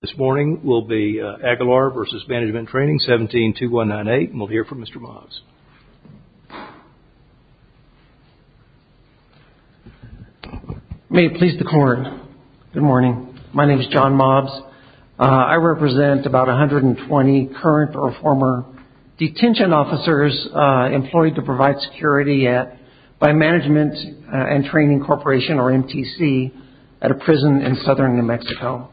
This morning will be Aguilar v. Management & Training, 17-2198, and we'll hear from Mr. Mobs. May it please the Court, good morning. My name is John Mobs. I represent about 120 current or former detention officers employed to provide security by Management & Training Corporation, or MTC, at a prison in southern New Mexico.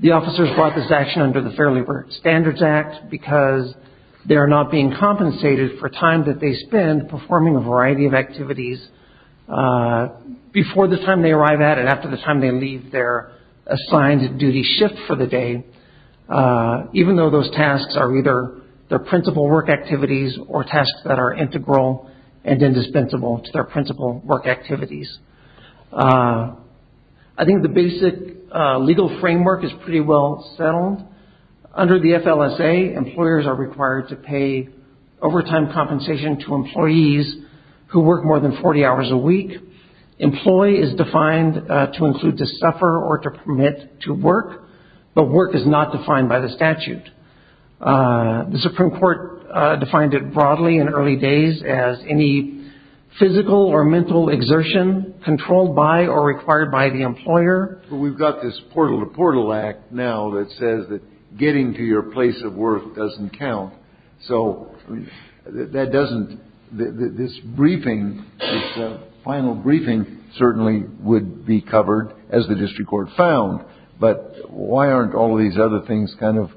The officers brought this action under the Fair Labor Standards Act because they are not being compensated for time that they spend performing a variety of activities before the time they arrive at and after the time they leave their assigned duty shift for the day, even though those tasks are either their principal work activities or tasks that are integral and indispensable to their principal work activities. I think the basic legal framework is pretty well settled. Under the FLSA, employers are required to pay overtime compensation to employees who work more than 40 hours a week. Employee is defined to include to suffer or to permit to work, but work is not defined by the statute. The Supreme Court defined it broadly in early days as any physical or mental exertion controlled by or required by the employer. We've got this Portal to Portal Act now that says that getting to your place of work doesn't count, so this final briefing certainly would be covered as the district court found, but why aren't all these other things kind of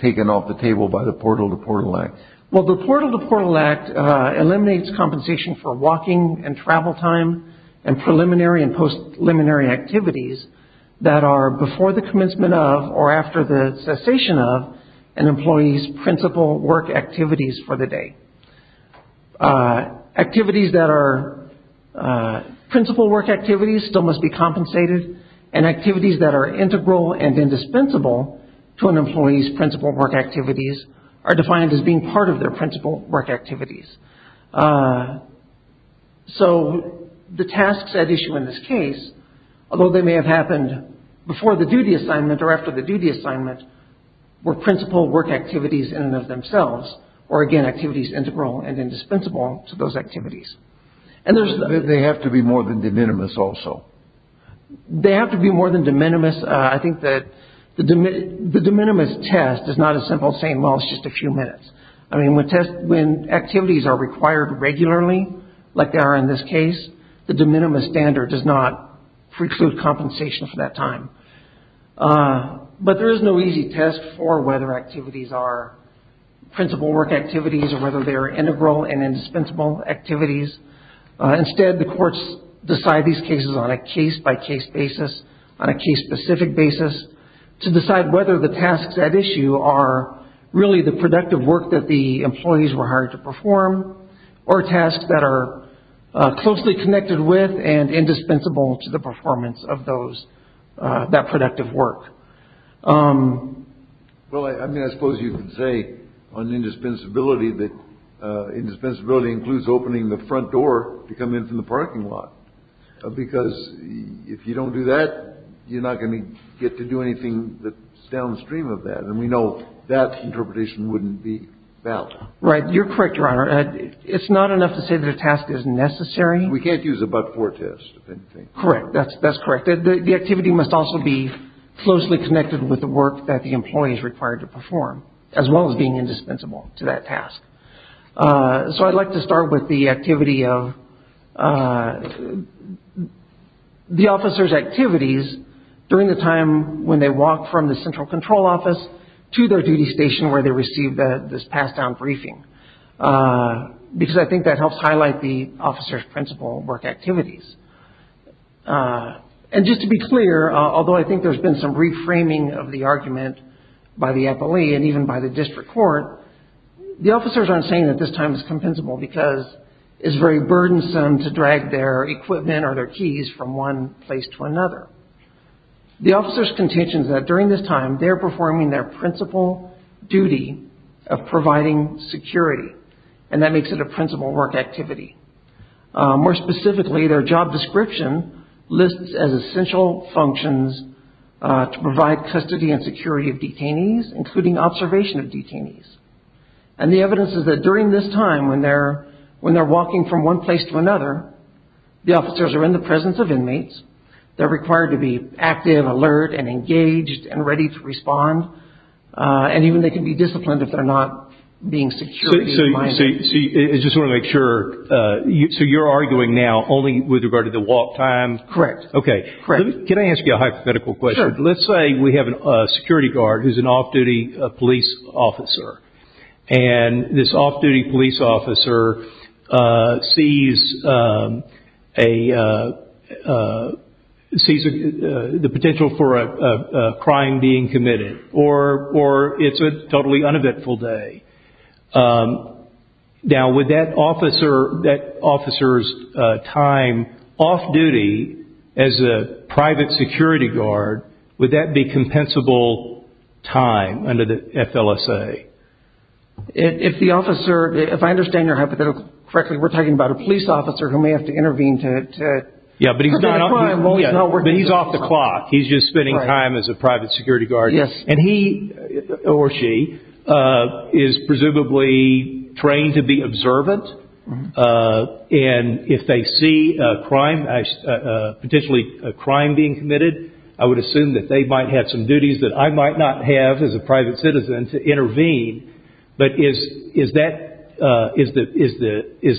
taken off the table by the Portal to Portal Act? Well, the Portal to Portal Act eliminates compensation for walking and travel time and preliminary and post-preliminary activities that are before the commencement of or after the cessation of an employee's principal work activities for the day. Activities that are principal work activities still must be compensated and activities that are integral and indispensable to an employee's principal work activities are defined as being part of their principal work activities. So, the tasks at issue in this case, although they may have happened before the duty assignment or after the duty assignment, were principal work activities in and of themselves, or again, activities integral and indispensable to those activities. They have to be more than de minimis also? They have to be more than de minimis. I think that the de minimis test is not as simple as saying, well, it's just a few minutes. I mean, when activities are required regularly, like they are in this case, the de minimis standard does not preclude compensation for that time. But there is no easy test for whether activities are principal work activities or whether they are integral and indispensable activities. Instead, the courts decide these cases on a case-by-case basis, on a case-specific basis, to decide whether the tasks at issue are really the productive work that the employees were hired to perform or tasks that are closely connected with and indispensable to the performance of that productive work. Well, I mean, I suppose you could say on indispensability that indispensability includes opening the front door to come in from the parking lot, because if you don't do that, you're not going to get to do anything that's downstream of that, and we know that interpretation wouldn't be valid. Right. You're correct, Your Honor. It's not enough to say that a task is necessary. We can't use a but-for test, if anything. Correct. That's correct. The activity must also be closely connected with the work that the employee is required to perform, as well as being indispensable to that task. So I'd like to start with the activity of the officer's activities during the time when they walk from the central control office to their duty station where they receive this pass-down briefing, because I think that helps highlight the officer's principal work activities. And just to be clear, although I think there's been some reframing of the argument by the appellee and even by the district court, the officers aren't saying that this time is compensable, because it's very burdensome to drag their equipment or their keys from one place to another. The officer's contention is that during this time, they're performing their principal duty of providing security, and that makes it a principal work activity. More specifically, their job description lists as essential functions to provide custody and security of detainees, including observation of detainees. And the evidence is that during this time, when they're walking from one place to another, the officers are in the presence of inmates. They're required to be active, alert, and engaged and ready to respond. And even they can be disciplined if they're not being security-minded. So you're arguing now only with regard to the walk time? Correct. Okay. Can I ask you a hypothetical question? Sure. Let's say we have a security guard who's an off-duty police officer. And this off-duty police officer sees the potential for a crime being committed, or it's a totally uneventful day. Now, would that officer's time off-duty as a private security guard, would that be compensable time under the FLSA? If the officer, if I understand your hypothetical correctly, we're talking about a police officer who may have to intervene to prevent a crime while he's not working. Yeah, but he's off the clock. He's just spending time as a private security guard. Yes. And he, or she, is presumably trained to be observant. And if they see a crime, potentially a crime being committed, I would assume that they might have some duties that I might not have as a private citizen to intervene. But is that, is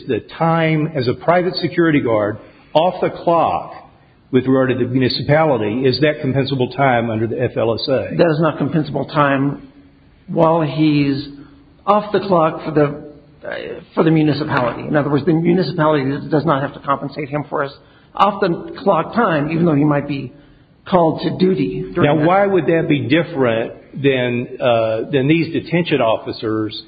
the time as a private security guard off the clock with regard to the municipality, is that compensable time under the FLSA? That is not compensable time while he's off the clock for the municipality. In other words, the municipality does not have to compensate him for his off-the-clock time, even though he might be called to duty. Now, why would that be different than these detention officers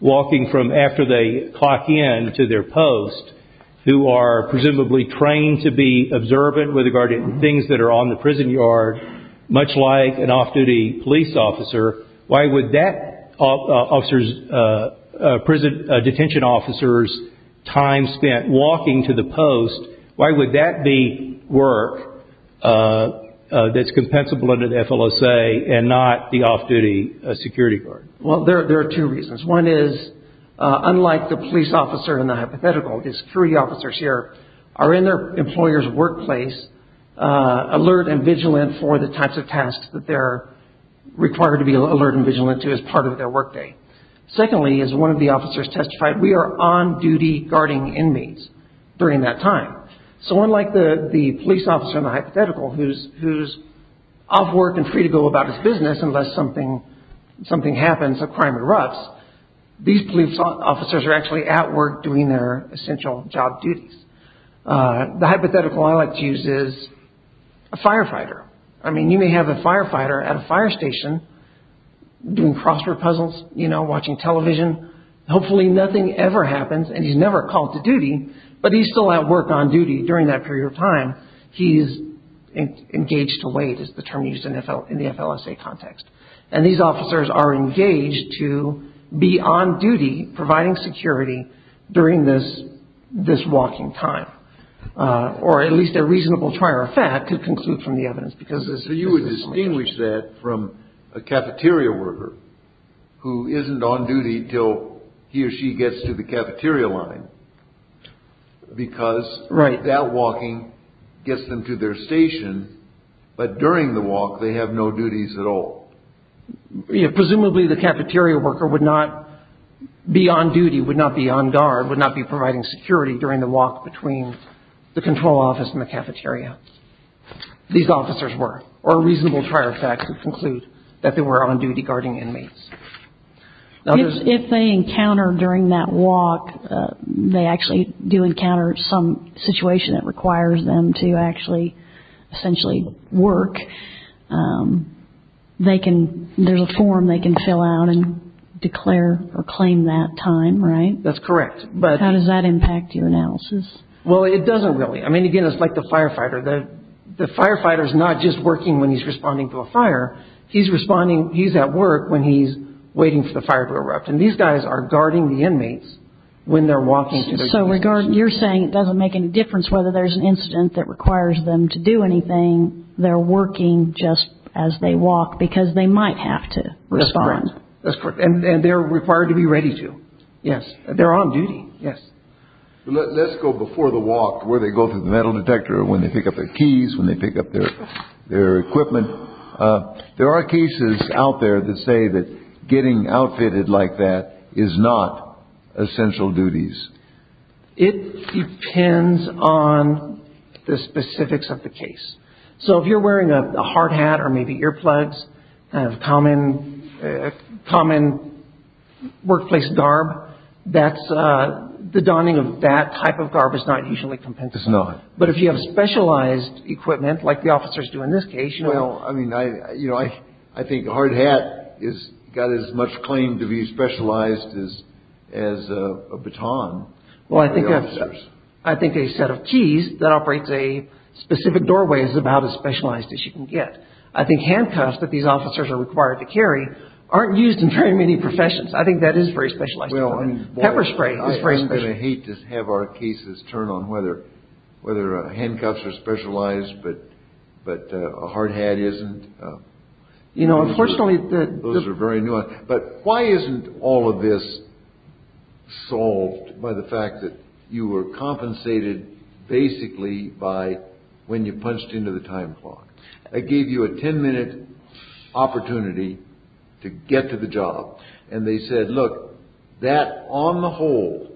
walking from after they clock in to their post, who are presumably trained to be observant with regard to things that are on the prison yard, much like an off-duty police officer, why would that prison detention officer's time spent walking to the post, why would that be work that's compensable under the FLSA and not the off-duty security guard? Well, there are two reasons. One is, unlike the police officer in the hypothetical, his security officers here are in their employer's workplace alert and vigilant for the types of tasks that they're required to be alert and vigilant to as part of their workday. Secondly, as one of the officers testified, we are on-duty guarding inmates during that time. So unlike the police officer in the hypothetical, who's off work and free to go about his business unless something happens, a crime erupts, these police officers are actually at work doing their essential job duties. The hypothetical I like to use is a firefighter. I mean, you may have a firefighter at a fire station doing crossword puzzles, you know, watching television. Hopefully nothing ever happens and he's never called to duty, but he's still at work on duty during that period of time. He's engaged to wait is the term used in the FLSA context. And these officers are engaged to be on duty providing security during this walking time. Or at least a reasonable trier of fact could conclude from the evidence. So you would distinguish that from a cafeteria worker who isn't on duty until he or she gets to the cafeteria line because that walking gets them to their station, but during the walk they have no duties at all. Presumably the cafeteria worker would not be on duty, would not be on guard, would not be providing security during the walk between the control office and the cafeteria. These officers were, or a reasonable trier of fact could conclude that they were on-duty guarding inmates. If they encounter during that walk, they actually do encounter some situation that requires them to actually essentially work, there's a form they can fill out and declare or claim that time, right? That's correct. How does that impact your analysis? Well, it doesn't really. I mean, again, it's like the firefighter. The firefighter's not just working when he's responding to a fire. He's responding, he's at work when he's waiting for the fire to erupt. And these guys are guarding the inmates when they're walking to their station. So you're saying it doesn't make any difference whether there's an incident that requires them to do anything, they're working just as they walk because they might have to respond. That's correct. And they're required to be ready to. Yes. They're on duty. Yes. Let's go before the walk, where they go through the metal detector, when they pick up their keys, when they pick up their equipment. There are cases out there that say that getting outfitted like that is not essential duties. It depends on the specifics of the case. So if you're wearing a hard hat or maybe earplugs, kind of common workplace garb, the donning of that type of garb is not usually compensated. It's not. But if you have specialized equipment like the officers do in this case, you know. I mean, I think a hard hat has got as much claim to be specialized as a baton. Well, I think a set of keys that operates a specific doorway is about as specialized as you can get. I think handcuffs that these officers are required to carry aren't used in very many professions. I think that is very specialized. Pepper spray is very specialized. We're going to hate to have our cases turn on whether handcuffs are specialized but a hard hat isn't. You know, unfortunately. Those are very nuanced. But why isn't all of this solved by the fact that you were compensated basically by when you punched into the time clock? They gave you a ten minute opportunity to get to the job. And they said, look, that, on the whole,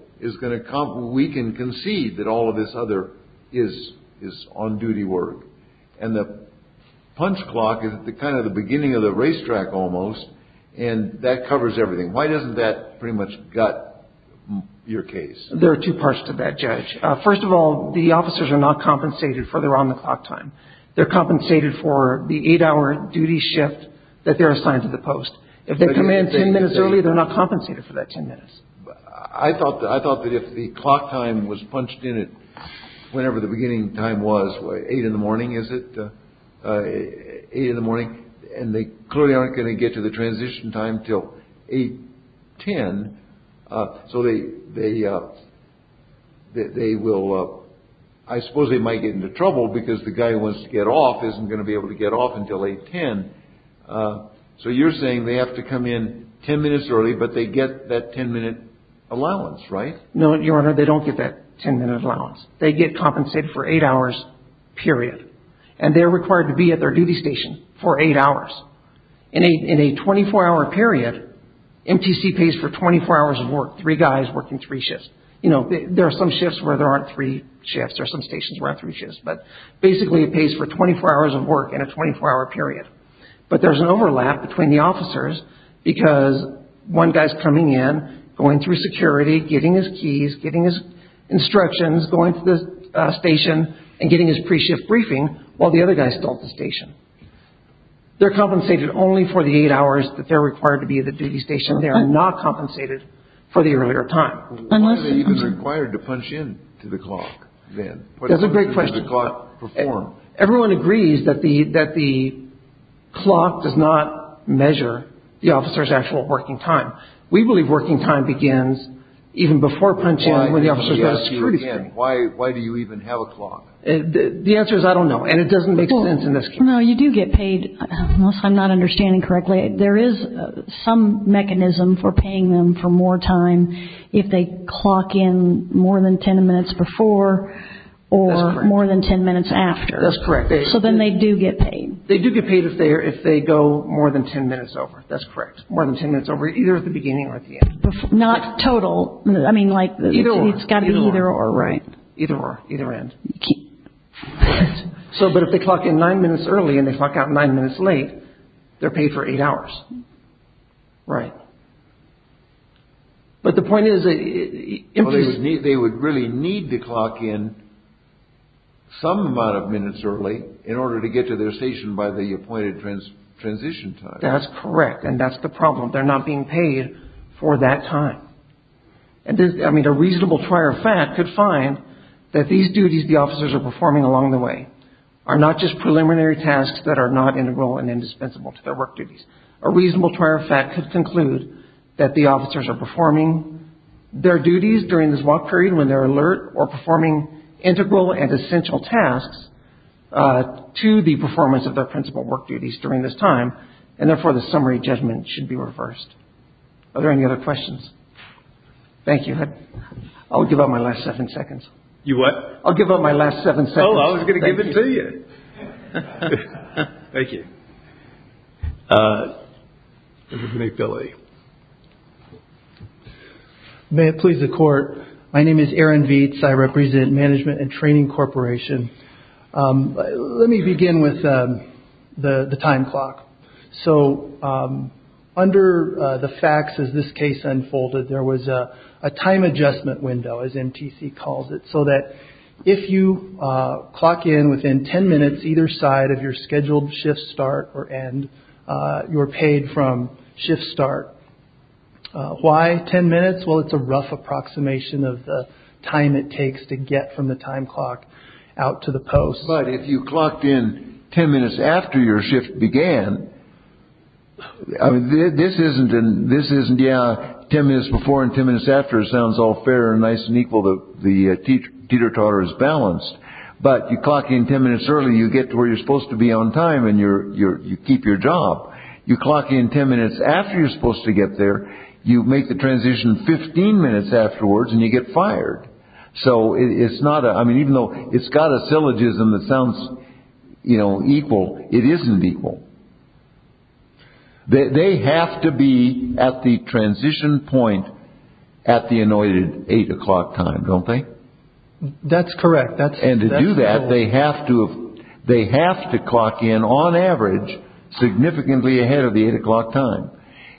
we can concede that all of this other is on-duty work. And the punch clock is kind of the beginning of the racetrack almost, and that covers everything. Why doesn't that pretty much gut your case? There are two parts to that, Judge. First of all, the officers are not compensated for their on-the-clock time. They're compensated for the eight-hour duty shift that they're assigned to the post. If they come in ten minutes early, they're not compensated for that ten minutes. I thought that if the clock time was punched in at whenever the beginning time was, eight in the morning, is it? Eight in the morning. And they clearly aren't going to get to the transition time until 8.10. So they will – I suppose they might get into trouble because the guy who wants to get off isn't going to be able to get off until 8.10. So you're saying they have to come in ten minutes early, but they get that ten-minute allowance, right? No, Your Honor, they don't get that ten-minute allowance. They get compensated for eight hours, period. And they're required to be at their duty station for eight hours. In a 24-hour period, MTC pays for 24 hours of work, three guys working three shifts. You know, there are some shifts where there aren't three shifts. There are some stations where there aren't three shifts. But basically it pays for 24 hours of work in a 24-hour period. But there's an overlap between the officers because one guy is coming in, going through security, getting his keys, getting his instructions, going to the station, and getting his pre-shift briefing, while the other guy is still at the station. They're compensated only for the eight hours that they're required to be at the duty station. They are not compensated for the earlier time. Why are they even required to punch in to the clock then? That's a great question. Everyone agrees that the clock does not measure the officer's actual working time. We believe working time begins even before punch-in when the officer's got security. Why do you even have a clock? The answer is I don't know, and it doesn't make sense in this case. No, you do get paid. Unless I'm not understanding correctly, there is some mechanism for paying them for more time if they clock in more than ten minutes before or more than ten minutes after. That's correct. So then they do get paid. They do get paid if they go more than ten minutes over. That's correct. More than ten minutes over, either at the beginning or at the end. Not total. Either or. It's got to be either or, right. Either or, either end. But if they clock in nine minutes early and they clock out nine minutes late, they're paid for eight hours. Right. But the point is... They would really need to clock in some amount of minutes early in order to get to their station by the appointed transition time. That's correct, and that's the problem. They're not being paid for that time. I mean, a reasonable trier of fact could find that these duties the officers are performing along the way are not just preliminary tasks that are not integral and indispensable to their work duties. A reasonable trier of fact could conclude that the officers are performing their duties during this walk period when they're alert or performing integral and essential tasks to the performance of their principal work duties during this time, and therefore the summary judgment should be reversed. Are there any other questions? Thank you. I'll give up my last seven seconds. You what? I'll give up my last seven seconds. Oh, I was going to give it to you. Thank you. Mr. McBillie. May it please the Court, my name is Aaron Vietz. I represent Management and Training Corporation. Let me begin with the time clock. So under the facts as this case unfolded, there was a time adjustment window, as MTC calls it, so that if you clock in within 10 minutes either side of your scheduled shift start or end, you're paid from shift start. Why 10 minutes? Well, it's a rough approximation of the time it takes to get from the time clock out to the post. But if you clocked in 10 minutes after your shift began, this isn't. Yeah, 10 minutes before and 10 minutes after sounds all fair and nice and equal, the teeter-totter is balanced. But you clock in 10 minutes early, you get to where you're supposed to be on time, and you keep your job. You clock in 10 minutes after you're supposed to get there, you make the transition 15 minutes afterwards, and you get fired. So it's not. I mean, even though it's got a syllogism that sounds equal, it isn't equal. They have to be at the transition point at the anointed 8 o'clock time, don't they? That's correct. And to do that, they have to clock in, on average, significantly ahead of the 8 o'clock time.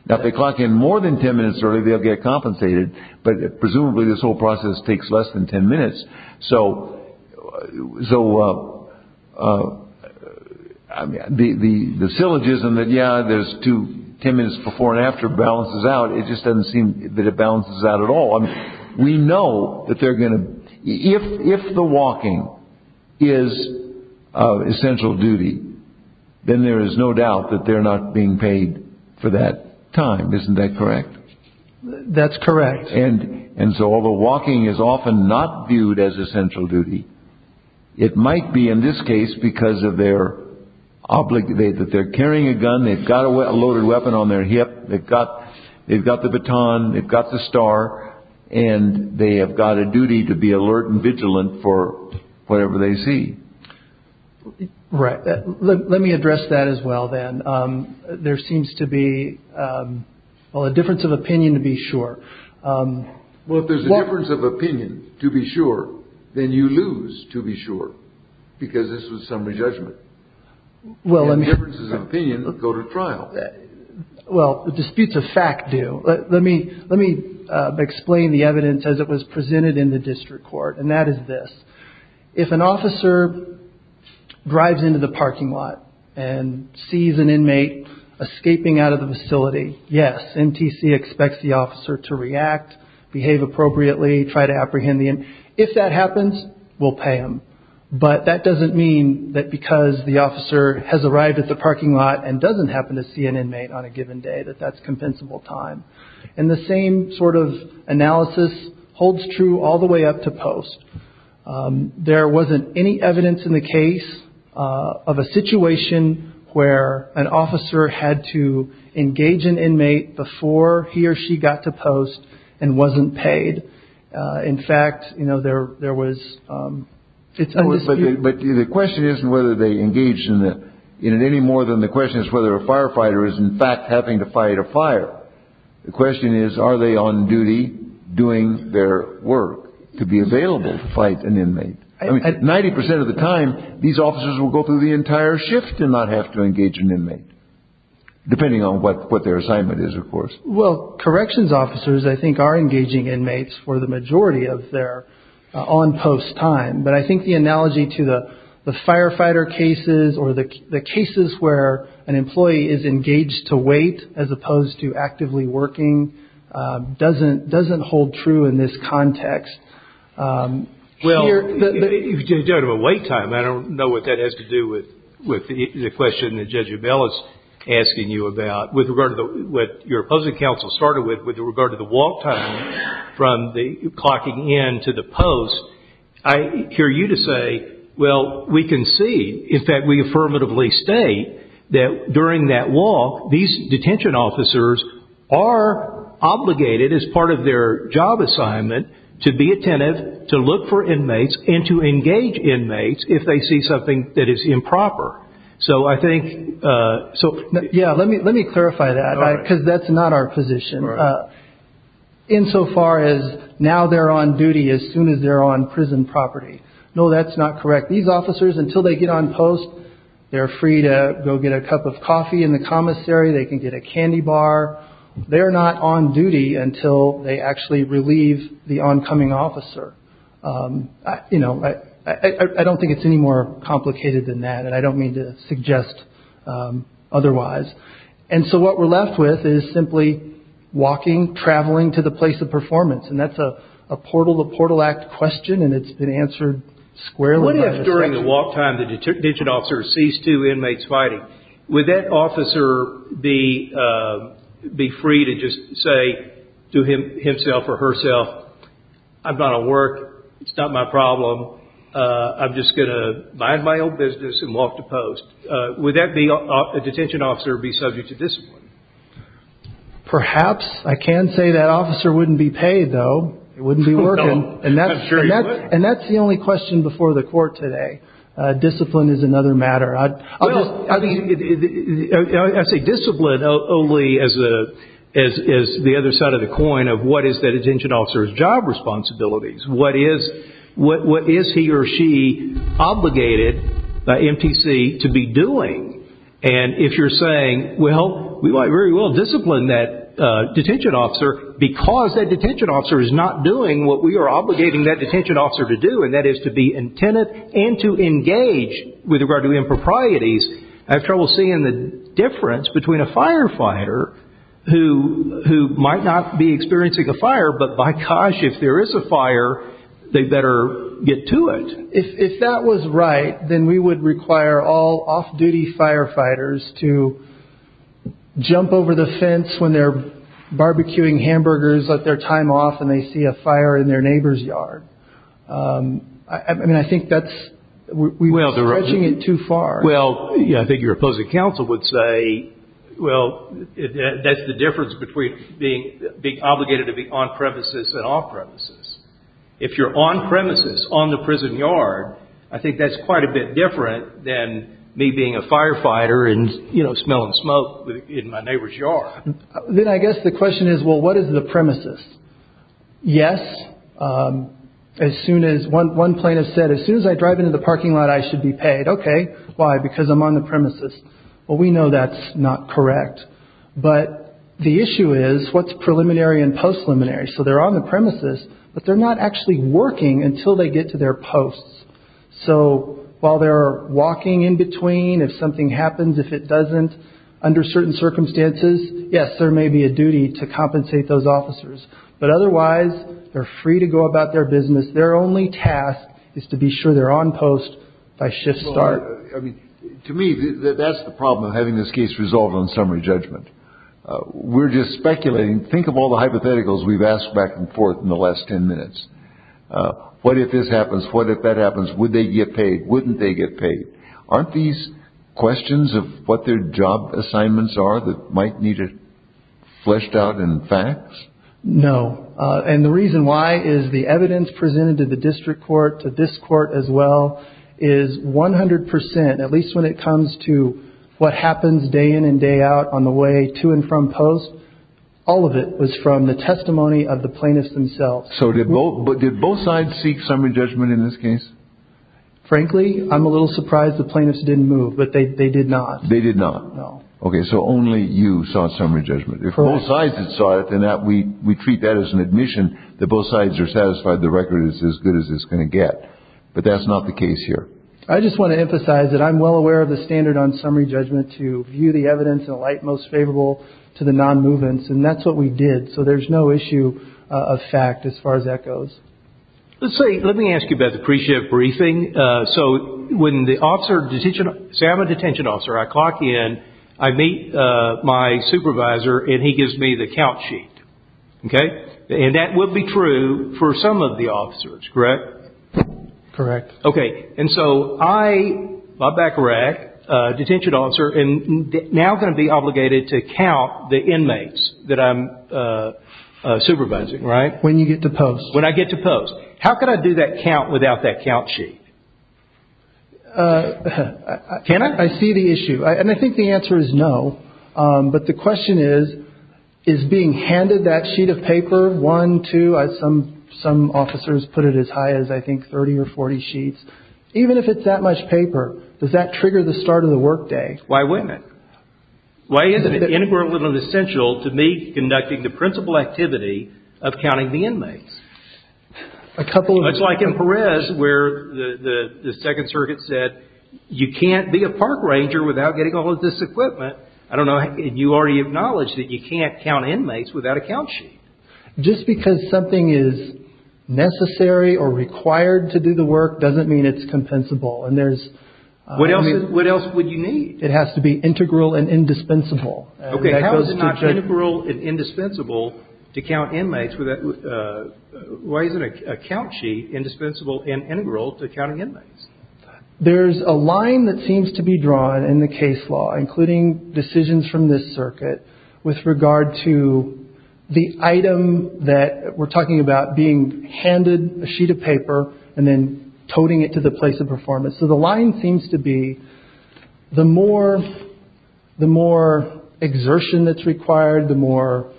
Now, if they clock in more than 10 minutes early, they'll get compensated, but presumably this whole process takes less than 10 minutes. So the syllogism that, yeah, there's two 10 minutes before and after balances out, it just doesn't seem that it balances out at all. I mean, we know that they're going to – if the walking is essential duty, then there is no doubt that they're not being paid for that time. Isn't that correct? That's correct. And so although walking is often not viewed as essential duty, it might be in this case because of their – that they're carrying a gun. They've got a loaded weapon on their hip. They've got the baton. They've got the star. And they have got a duty to be alert and vigilant for whatever they see. Right. Let me address that as well then. There seems to be, well, a difference of opinion, to be sure. Well, if there's a difference of opinion, to be sure, then you lose, to be sure, because this was summary judgment. Well, let me – Differences of opinion go to trial. Well, disputes of fact do. Let me explain the evidence as it was presented in the district court, and that is this. If an officer drives into the parking lot and sees an inmate escaping out of the facility, yes, NTC expects the officer to react, behave appropriately, try to apprehend the inmate. If that happens, we'll pay them. But that doesn't mean that because the officer has arrived at the parking lot and doesn't happen to see an inmate on a given day that that's compensable time. And the same sort of analysis holds true all the way up to post. There wasn't any evidence in the case of a situation where an officer had to engage an inmate before he or she got to post and wasn't paid. In fact, you know, there was – it's a dispute. But the question isn't whether they engaged in it any more than the question is whether a firefighter is in fact having to fight a fire. The question is, are they on duty doing their work to be available to fight an inmate? I mean, 90 percent of the time, these officers will go through the entire shift and not have to engage an inmate, depending on what their assignment is, of course. Well, corrections officers, I think, are engaging inmates for the majority of their on-post time. But I think the analogy to the firefighter cases or the cases where an employee is engaged to wait as opposed to actively working doesn't hold true in this context. Well, if you're talking about wait time, I don't know what that has to do with the question that Judge Abell is asking you about. With regard to what your opposing counsel started with, with regard to the walk time from the clocking in to the post, I hear you to say, well, we can see – in fact, we affirmatively state that during that walk, these detention officers are obligated as part of their job assignment to be attentive, to look for inmates, and to engage inmates if they see something that is improper. So I think – Yeah, let me clarify that, because that's not our position. Insofar as now they're on duty as soon as they're on prison property. No, that's not correct. These officers, until they get on post, they're free to go get a cup of coffee in the commissary. They can get a candy bar. They're not on duty until they actually relieve the oncoming officer. You know, I don't think it's any more complicated than that, and I don't mean to suggest otherwise. And so what we're left with is simply walking, traveling to the place of performance, and that's a portal-to-portal act question, and it's been answered squarely. What if during the walk time the detention officer sees two inmates fighting? Would that officer be free to just say to himself or herself, I've got to work. It's not my problem. I'm just going to mind my own business and walk to post. Would that detention officer be subject to discipline? Perhaps. I can say that officer wouldn't be paid, though. He wouldn't be working. I'm sure he wouldn't. And that's the only question before the court today. Discipline is another matter. I say discipline only as the other side of the coin of what is that detention officer's job responsibilities. What is he or she obligated by MTC to be doing? And if you're saying, well, we might very well discipline that detention officer because that detention officer is not doing what we are obligating that detention officer to do, and that is to be intent and to engage with regard to improprieties, I have trouble seeing the difference between a firefighter who might not be experiencing a fire, but by gosh, if there is a fire, they better get to it. If that was right, then we would require all off-duty firefighters to jump over the fence when they're barbecuing hamburgers, let their time off, and they see a fire in their neighbor's yard. I mean, I think that's stretching it too far. Well, I think your opposing counsel would say, well, that's the difference between being obligated to be on-premises and off-premises. If you're on-premises, on the prison yard, I think that's quite a bit different than me being a firefighter and, you know, smelling smoke in my neighbor's yard. Then I guess the question is, well, what is the premises? Yes, as soon as one plaintiff said, as soon as I drive into the parking lot, I should be paid. Okay, why? Because I'm on the premises. Well, we know that's not correct. But the issue is, what's preliminary and post-preliminary? So they're on the premises, but they're not actually working until they get to their posts. So while they're walking in between, if something happens, if it doesn't, under certain circumstances, yes, there may be a duty to compensate those officers. But otherwise, they're free to go about their business. Their only task is to be sure they're on post by shift start. To me, that's the problem of having this case resolved on summary judgment. We're just speculating. Think of all the hypotheticals we've asked back and forth in the last ten minutes. What if this happens? What if that happens? Would they get paid? Wouldn't they get paid? Aren't these questions of what their job assignments are that might need to be fleshed out in facts? No. And the reason why is the evidence presented to the district court, to this court as well, is 100 percent, at least when it comes to what happens day in and day out on the way to and from post, all of it was from the testimony of the plaintiffs themselves. So did both sides seek summary judgment in this case? Frankly, I'm a little surprised the plaintiffs didn't move, but they did not. They did not? No. Okay, so only you saw summary judgment. If both sides saw it, then we treat that as an admission that both sides are satisfied the record is as good as it's going to get. But that's not the case here. I just want to emphasize that I'm well aware of the standard on summary judgment to view the evidence in a light most favorable to the non-movements. And that's what we did. So there's no issue of fact as far as that goes. Let me ask you about the pre-shift briefing. So when the officer, say I'm a detention officer, I clock in, I meet my supervisor, and he gives me the count sheet. Okay? And that would be true for some of the officers, correct? Correct. Okay. And so I, my back rack, detention officer, am now going to be obligated to count the inmates that I'm supervising, right? When you get to post. When I get to post. How can I do that count without that count sheet? Can I? I see the issue. And I think the answer is no. But the question is, is being handed that sheet of paper, one, two, some officers put it as high as I think 30 or 40 sheets. Even if it's that much paper, does that trigger the start of the work day? Why wouldn't it? Why isn't it integral and essential to me conducting the principal activity of counting the inmates? A couple of. It's like in Perez where the second circuit said, you can't be a park ranger without getting all of this equipment. I don't know. And you already acknowledged that you can't count inmates without a count sheet. Just because something is necessary or required to do the work doesn't mean it's compensable. And there's. What else would you need? It has to be integral and indispensable. OK. How is it not integral and indispensable to count inmates? Why isn't a count sheet indispensable and integral to counting inmates? There's a line that seems to be drawn in the case law, including decisions from this circuit, with regard to the item that we're talking about being handed a sheet of paper and then toting it to the place of performance. So the line seems to be the more exertion that's required, the more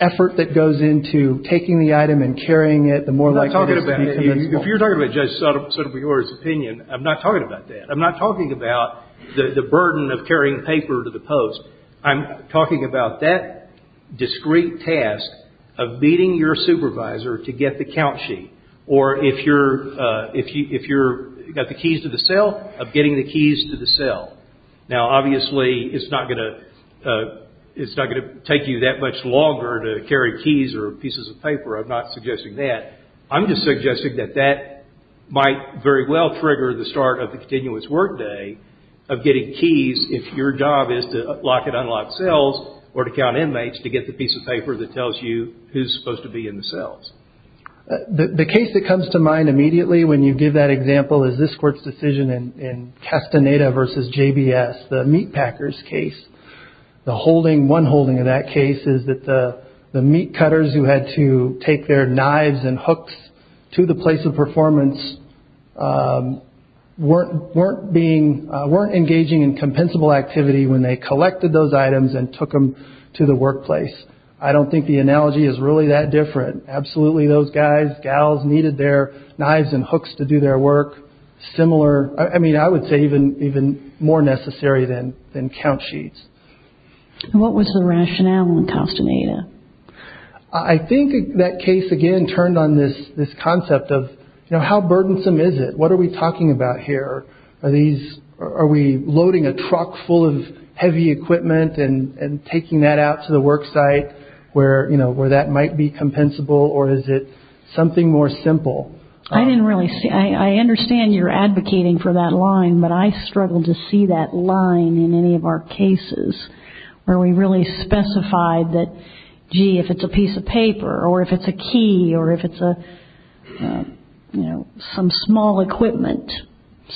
effort that goes into taking the item and carrying it, the more likely it is to be compensable. If you're talking about Judge Sotomayor's opinion, I'm not talking about that. I'm not talking about the burden of carrying paper to the post. I'm talking about that discrete task of meeting your supervisor to get the count sheet. Or if you've got the keys to the cell, of getting the keys to the cell. Now, obviously, it's not going to take you that much longer to carry keys or pieces of paper. I'm not suggesting that. I'm just suggesting that that might very well trigger the start of the continuous workday of getting keys if your job is to lock and unlock cells or to count inmates to get the piece of paper that tells you who's supposed to be in the cells. The case that comes to mind immediately when you give that example is this court's decision in Castaneda v. JBS, the meat packers case. The holding, one holding of that case is that the meat cutters who had to take their knives and hooks to the place of performance weren't engaging in compensable activity when they collected those items and took them to the workplace. I don't think the analogy is really that different. Absolutely, those guys, gals, needed their knives and hooks to do their work. Similar, I mean, I would say even more necessary than count sheets. What was the rationale in Castaneda? I think that case, again, turned on this concept of how burdensome is it? What are we talking about here? Are we loading a truck full of heavy equipment and taking that out to the worksite where that might be compensable? Or is it something more simple? I understand you're advocating for that line, but I struggle to see that line in any of our cases where we really specify that, gee, if it's a piece of paper or if it's a key or if it's some small equipment,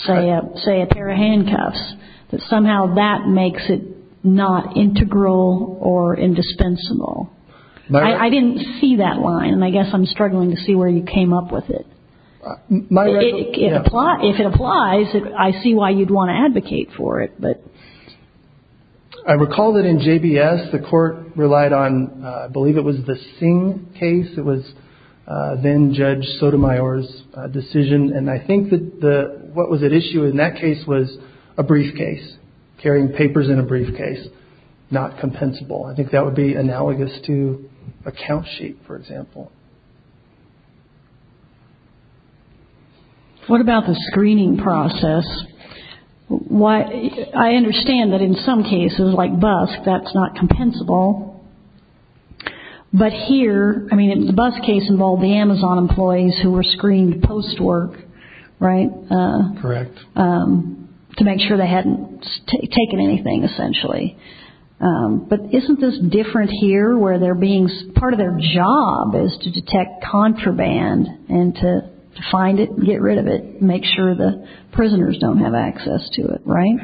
say a pair of handcuffs, that somehow that makes it not integral or indispensable. I didn't see that line, and I guess I'm struggling to see where you came up with it. If it applies, I see why you'd want to advocate for it. I recall that in JBS, the court relied on, I believe it was the Singh case. It was then Judge Sotomayor's decision, and I think that what was at issue in that case was a briefcase, carrying papers in a briefcase, not compensable. I think that would be analogous to a count sheet, for example. What about the screening process? I understand that in some cases, like BUSK, that's not compensable. But here, I mean, the BUSK case involved the Amazon employees who were screened post-work, right? Correct. To make sure they hadn't taken anything, essentially. But isn't this different here, where part of their job is to detect contraband and to find it, get rid of it, make sure the prisoners don't have access to it, right?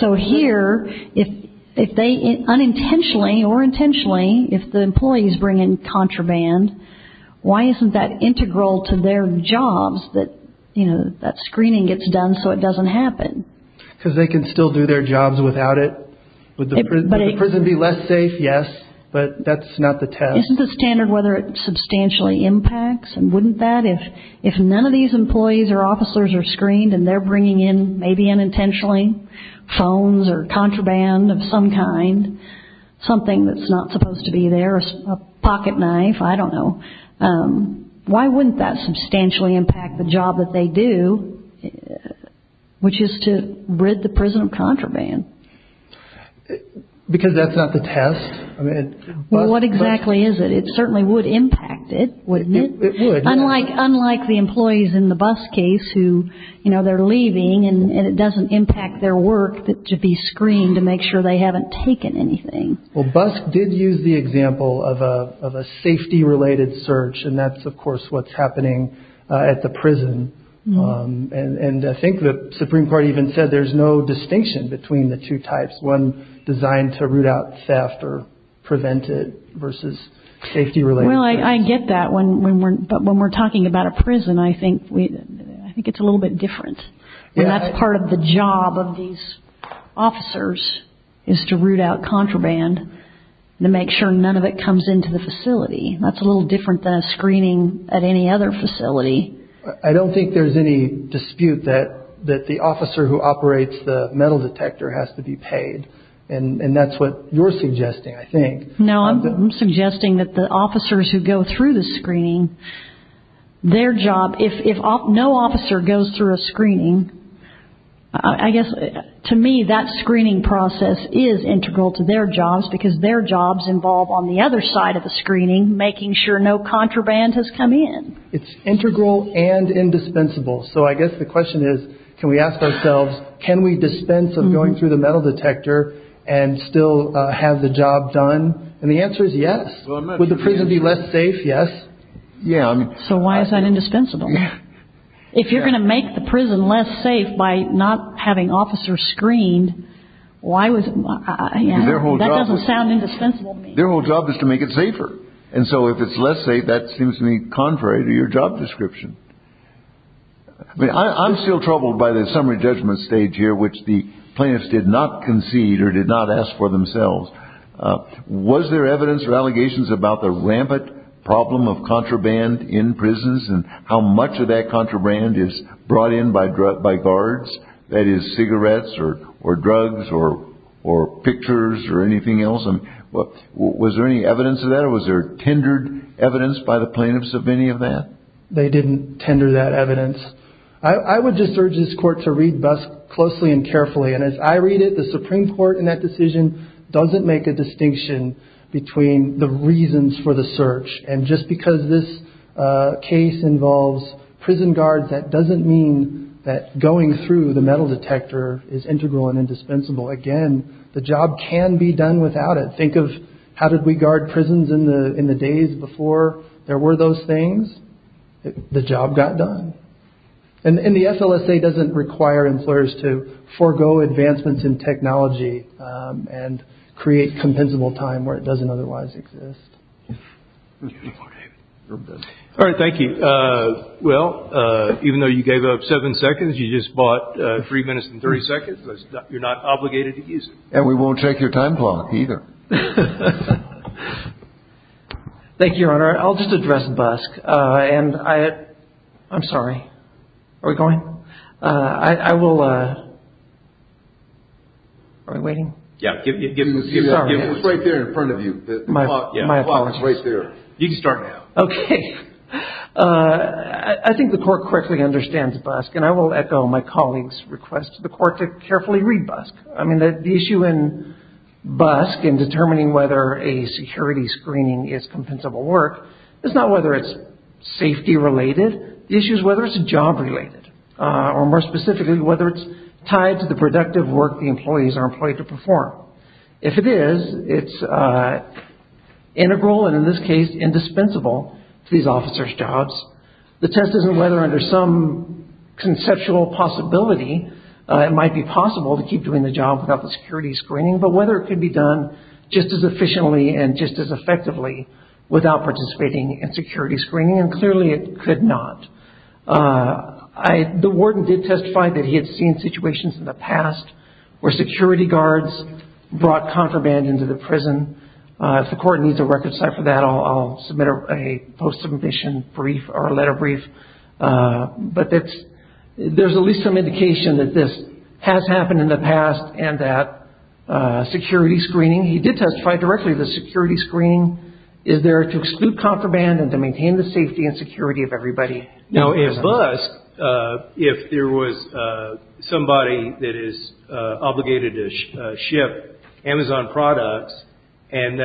So here, if they unintentionally or intentionally, if the employees bring in contraband, why isn't that integral to their jobs, that screening gets done so it doesn't happen? Because they can still do their jobs without it. Would the prison be less safe? Yes, but that's not the test. Isn't the standard whether it substantially impacts? And wouldn't that, if none of these employees or officers are screened and they're bringing in, maybe unintentionally, phones or contraband of some kind, something that's not supposed to be there, a pocket knife, I don't know, why wouldn't that substantially impact the job that they do, which is to rid the prison of contraband? Because that's not the test. Well, what exactly is it? It certainly would impact it, wouldn't it? It would. Unlike the employees in the BUS case who, you know, they're leaving and it doesn't impact their work to be screened to make sure they haven't taken anything. Well, BUS did use the example of a safety-related search, and that's, of course, what's happening at the prison. And I think the Supreme Court even said there's no distinction between the two types, one designed to root out theft or prevent it versus safety-related theft. Well, I get that, but when we're talking about a prison, I think it's a little bit different. And that's part of the job of these officers is to root out contraband and to make sure none of it comes into the facility. That's a little different than a screening at any other facility. I don't think there's any dispute that the officer who operates the metal detector has to be paid, and that's what you're suggesting, I think. No, I'm suggesting that the officers who go through the screening, their job, if no officer goes through a screening, I guess to me that screening process is integral to their jobs because their job's involved on the other side of the screening making sure no contraband has come in. It's integral and indispensable. So I guess the question is, can we ask ourselves, can we dispense of going through the metal detector and still have the job done? And the answer is yes. Would the prison be less safe? Yes. Yeah. So why is that indispensable? If you're going to make the prison less safe by not having officers screened, why was it? That doesn't sound indispensable to me. Their whole job is to make it safer. And so if it's less safe, that seems to me contrary to your job description. I mean, I'm still troubled by the summary judgment stage here, which the plaintiffs did not concede or did not ask for themselves. Was there evidence or allegations about the rampant problem of contraband in prisons and how much of that contraband is brought in by guards, that is, cigarettes or drugs or pictures or anything else? Was there any evidence of that or was there tendered evidence by the plaintiffs of any of that? They didn't tender that evidence. I would just urge this court to read BUSC closely and carefully. And as I read it, the Supreme Court in that decision doesn't make a distinction between the reasons for the search. And just because this case involves prison guards, that doesn't mean that going through the metal detector is integral and indispensable. Again, the job can be done without it. Think of how did we guard prisons in the days before there were those things? The job got done. And the FLSA doesn't require employers to forego advancements in technology and create compensable time where it doesn't otherwise exist. All right, thank you. Well, even though you gave up seven seconds, you just bought three minutes and 30 seconds. You're not obligated to use it. And we won't check your time clock either. Thank you, Your Honor. I'll just address BUSC. And I'm sorry. Are we going? I will... Are we waiting? Yeah, give him the... Sorry. It was right there in front of you. My apologies. The clock is right there. You can start now. Okay. I think the court correctly understands BUSC. And I will echo my colleague's request to the court to carefully read BUSC. I mean, the issue in BUSC in determining whether a security screening is compensable work is not whether it's safety-related. The issue is whether it's job-related or, more specifically, whether it's tied to the productive work the employees are employed to perform. If it is, it's integral and, in this case, indispensable to these officers' jobs. The test isn't whether, under some conceptual possibility, it might be possible to keep doing the job without the security screening, but whether it could be done just as efficiently and just as effectively without participating in security screening. And, clearly, it could not. The warden did testify that he had seen situations in the past where security guards brought contraband into the prison. If the court needs a record site for that, I'll submit a post-submission brief or a letter brief. But there's at least some indication that this has happened in the past and that security screening – he did testify directly to security screening – is there to exclude contraband and to maintain the safety and security of everybody. Now, in BUSC, if there was somebody that is obligated to ship Amazon products and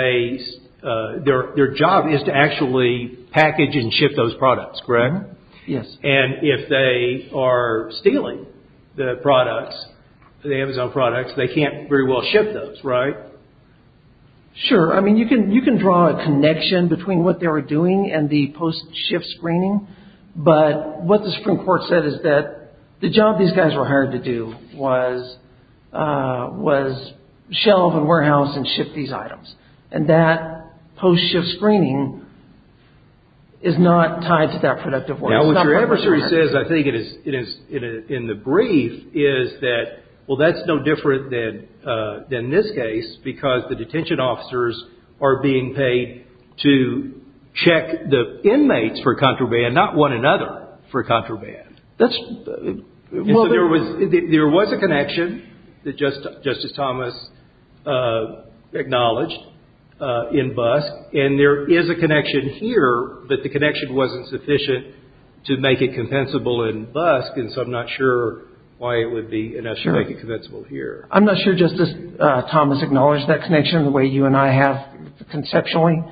their job is to actually package and ship those products, correct? Yes. And if they are stealing the products, the Amazon products, they can't very well ship those, right? Sure. I mean, you can draw a connection between what they were doing and the post-shift screening, but what the Supreme Court said is that the job these guys were hired to do was shelve and warehouse and ship these items. And that post-shift screening is not tied to that productive work. Now, what your adversary says, I think, in the brief, is that, well, that's no different than this case, because the detention officers are being paid to check the inmates for contraband, not one another for contraband. There was a connection that Justice Thomas acknowledged in BUSC, and there is a connection here, but the connection wasn't sufficient to make it compensable in BUSC, and so I'm not sure why it would be enough to make it compensable here. I'm not sure Justice Thomas acknowledged that connection the way you and I have conceptually,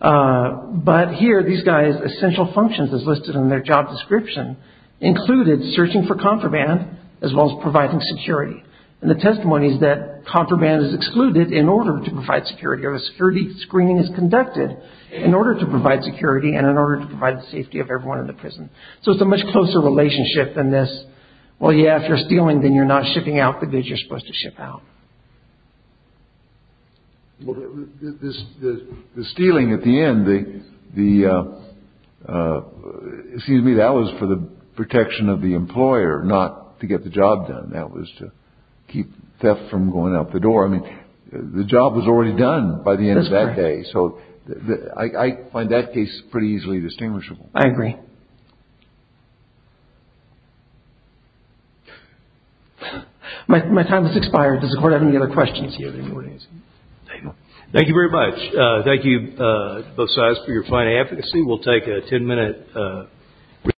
but here these guys' essential functions as listed in their job description included searching for contraband as well as providing security. And the testimony is that contraband is excluded in order to provide security or a security screening is conducted in order to provide security and in order to provide the safety of everyone in the prison. So it's a much closer relationship than this, well, yeah, if you're stealing then you're not shipping out the goods you're supposed to ship out. The stealing at the end, the, excuse me, that was for the protection of the employer, not to get the job done. That was to keep theft from going out the door. I mean, the job was already done by the end of that day, so I find that case pretty easily distinguishable. I agree. My time has expired. Does the Court have any other questions? Thank you very much. Thank you, both sides, for your fine advocacy. We'll take a ten-minute recess.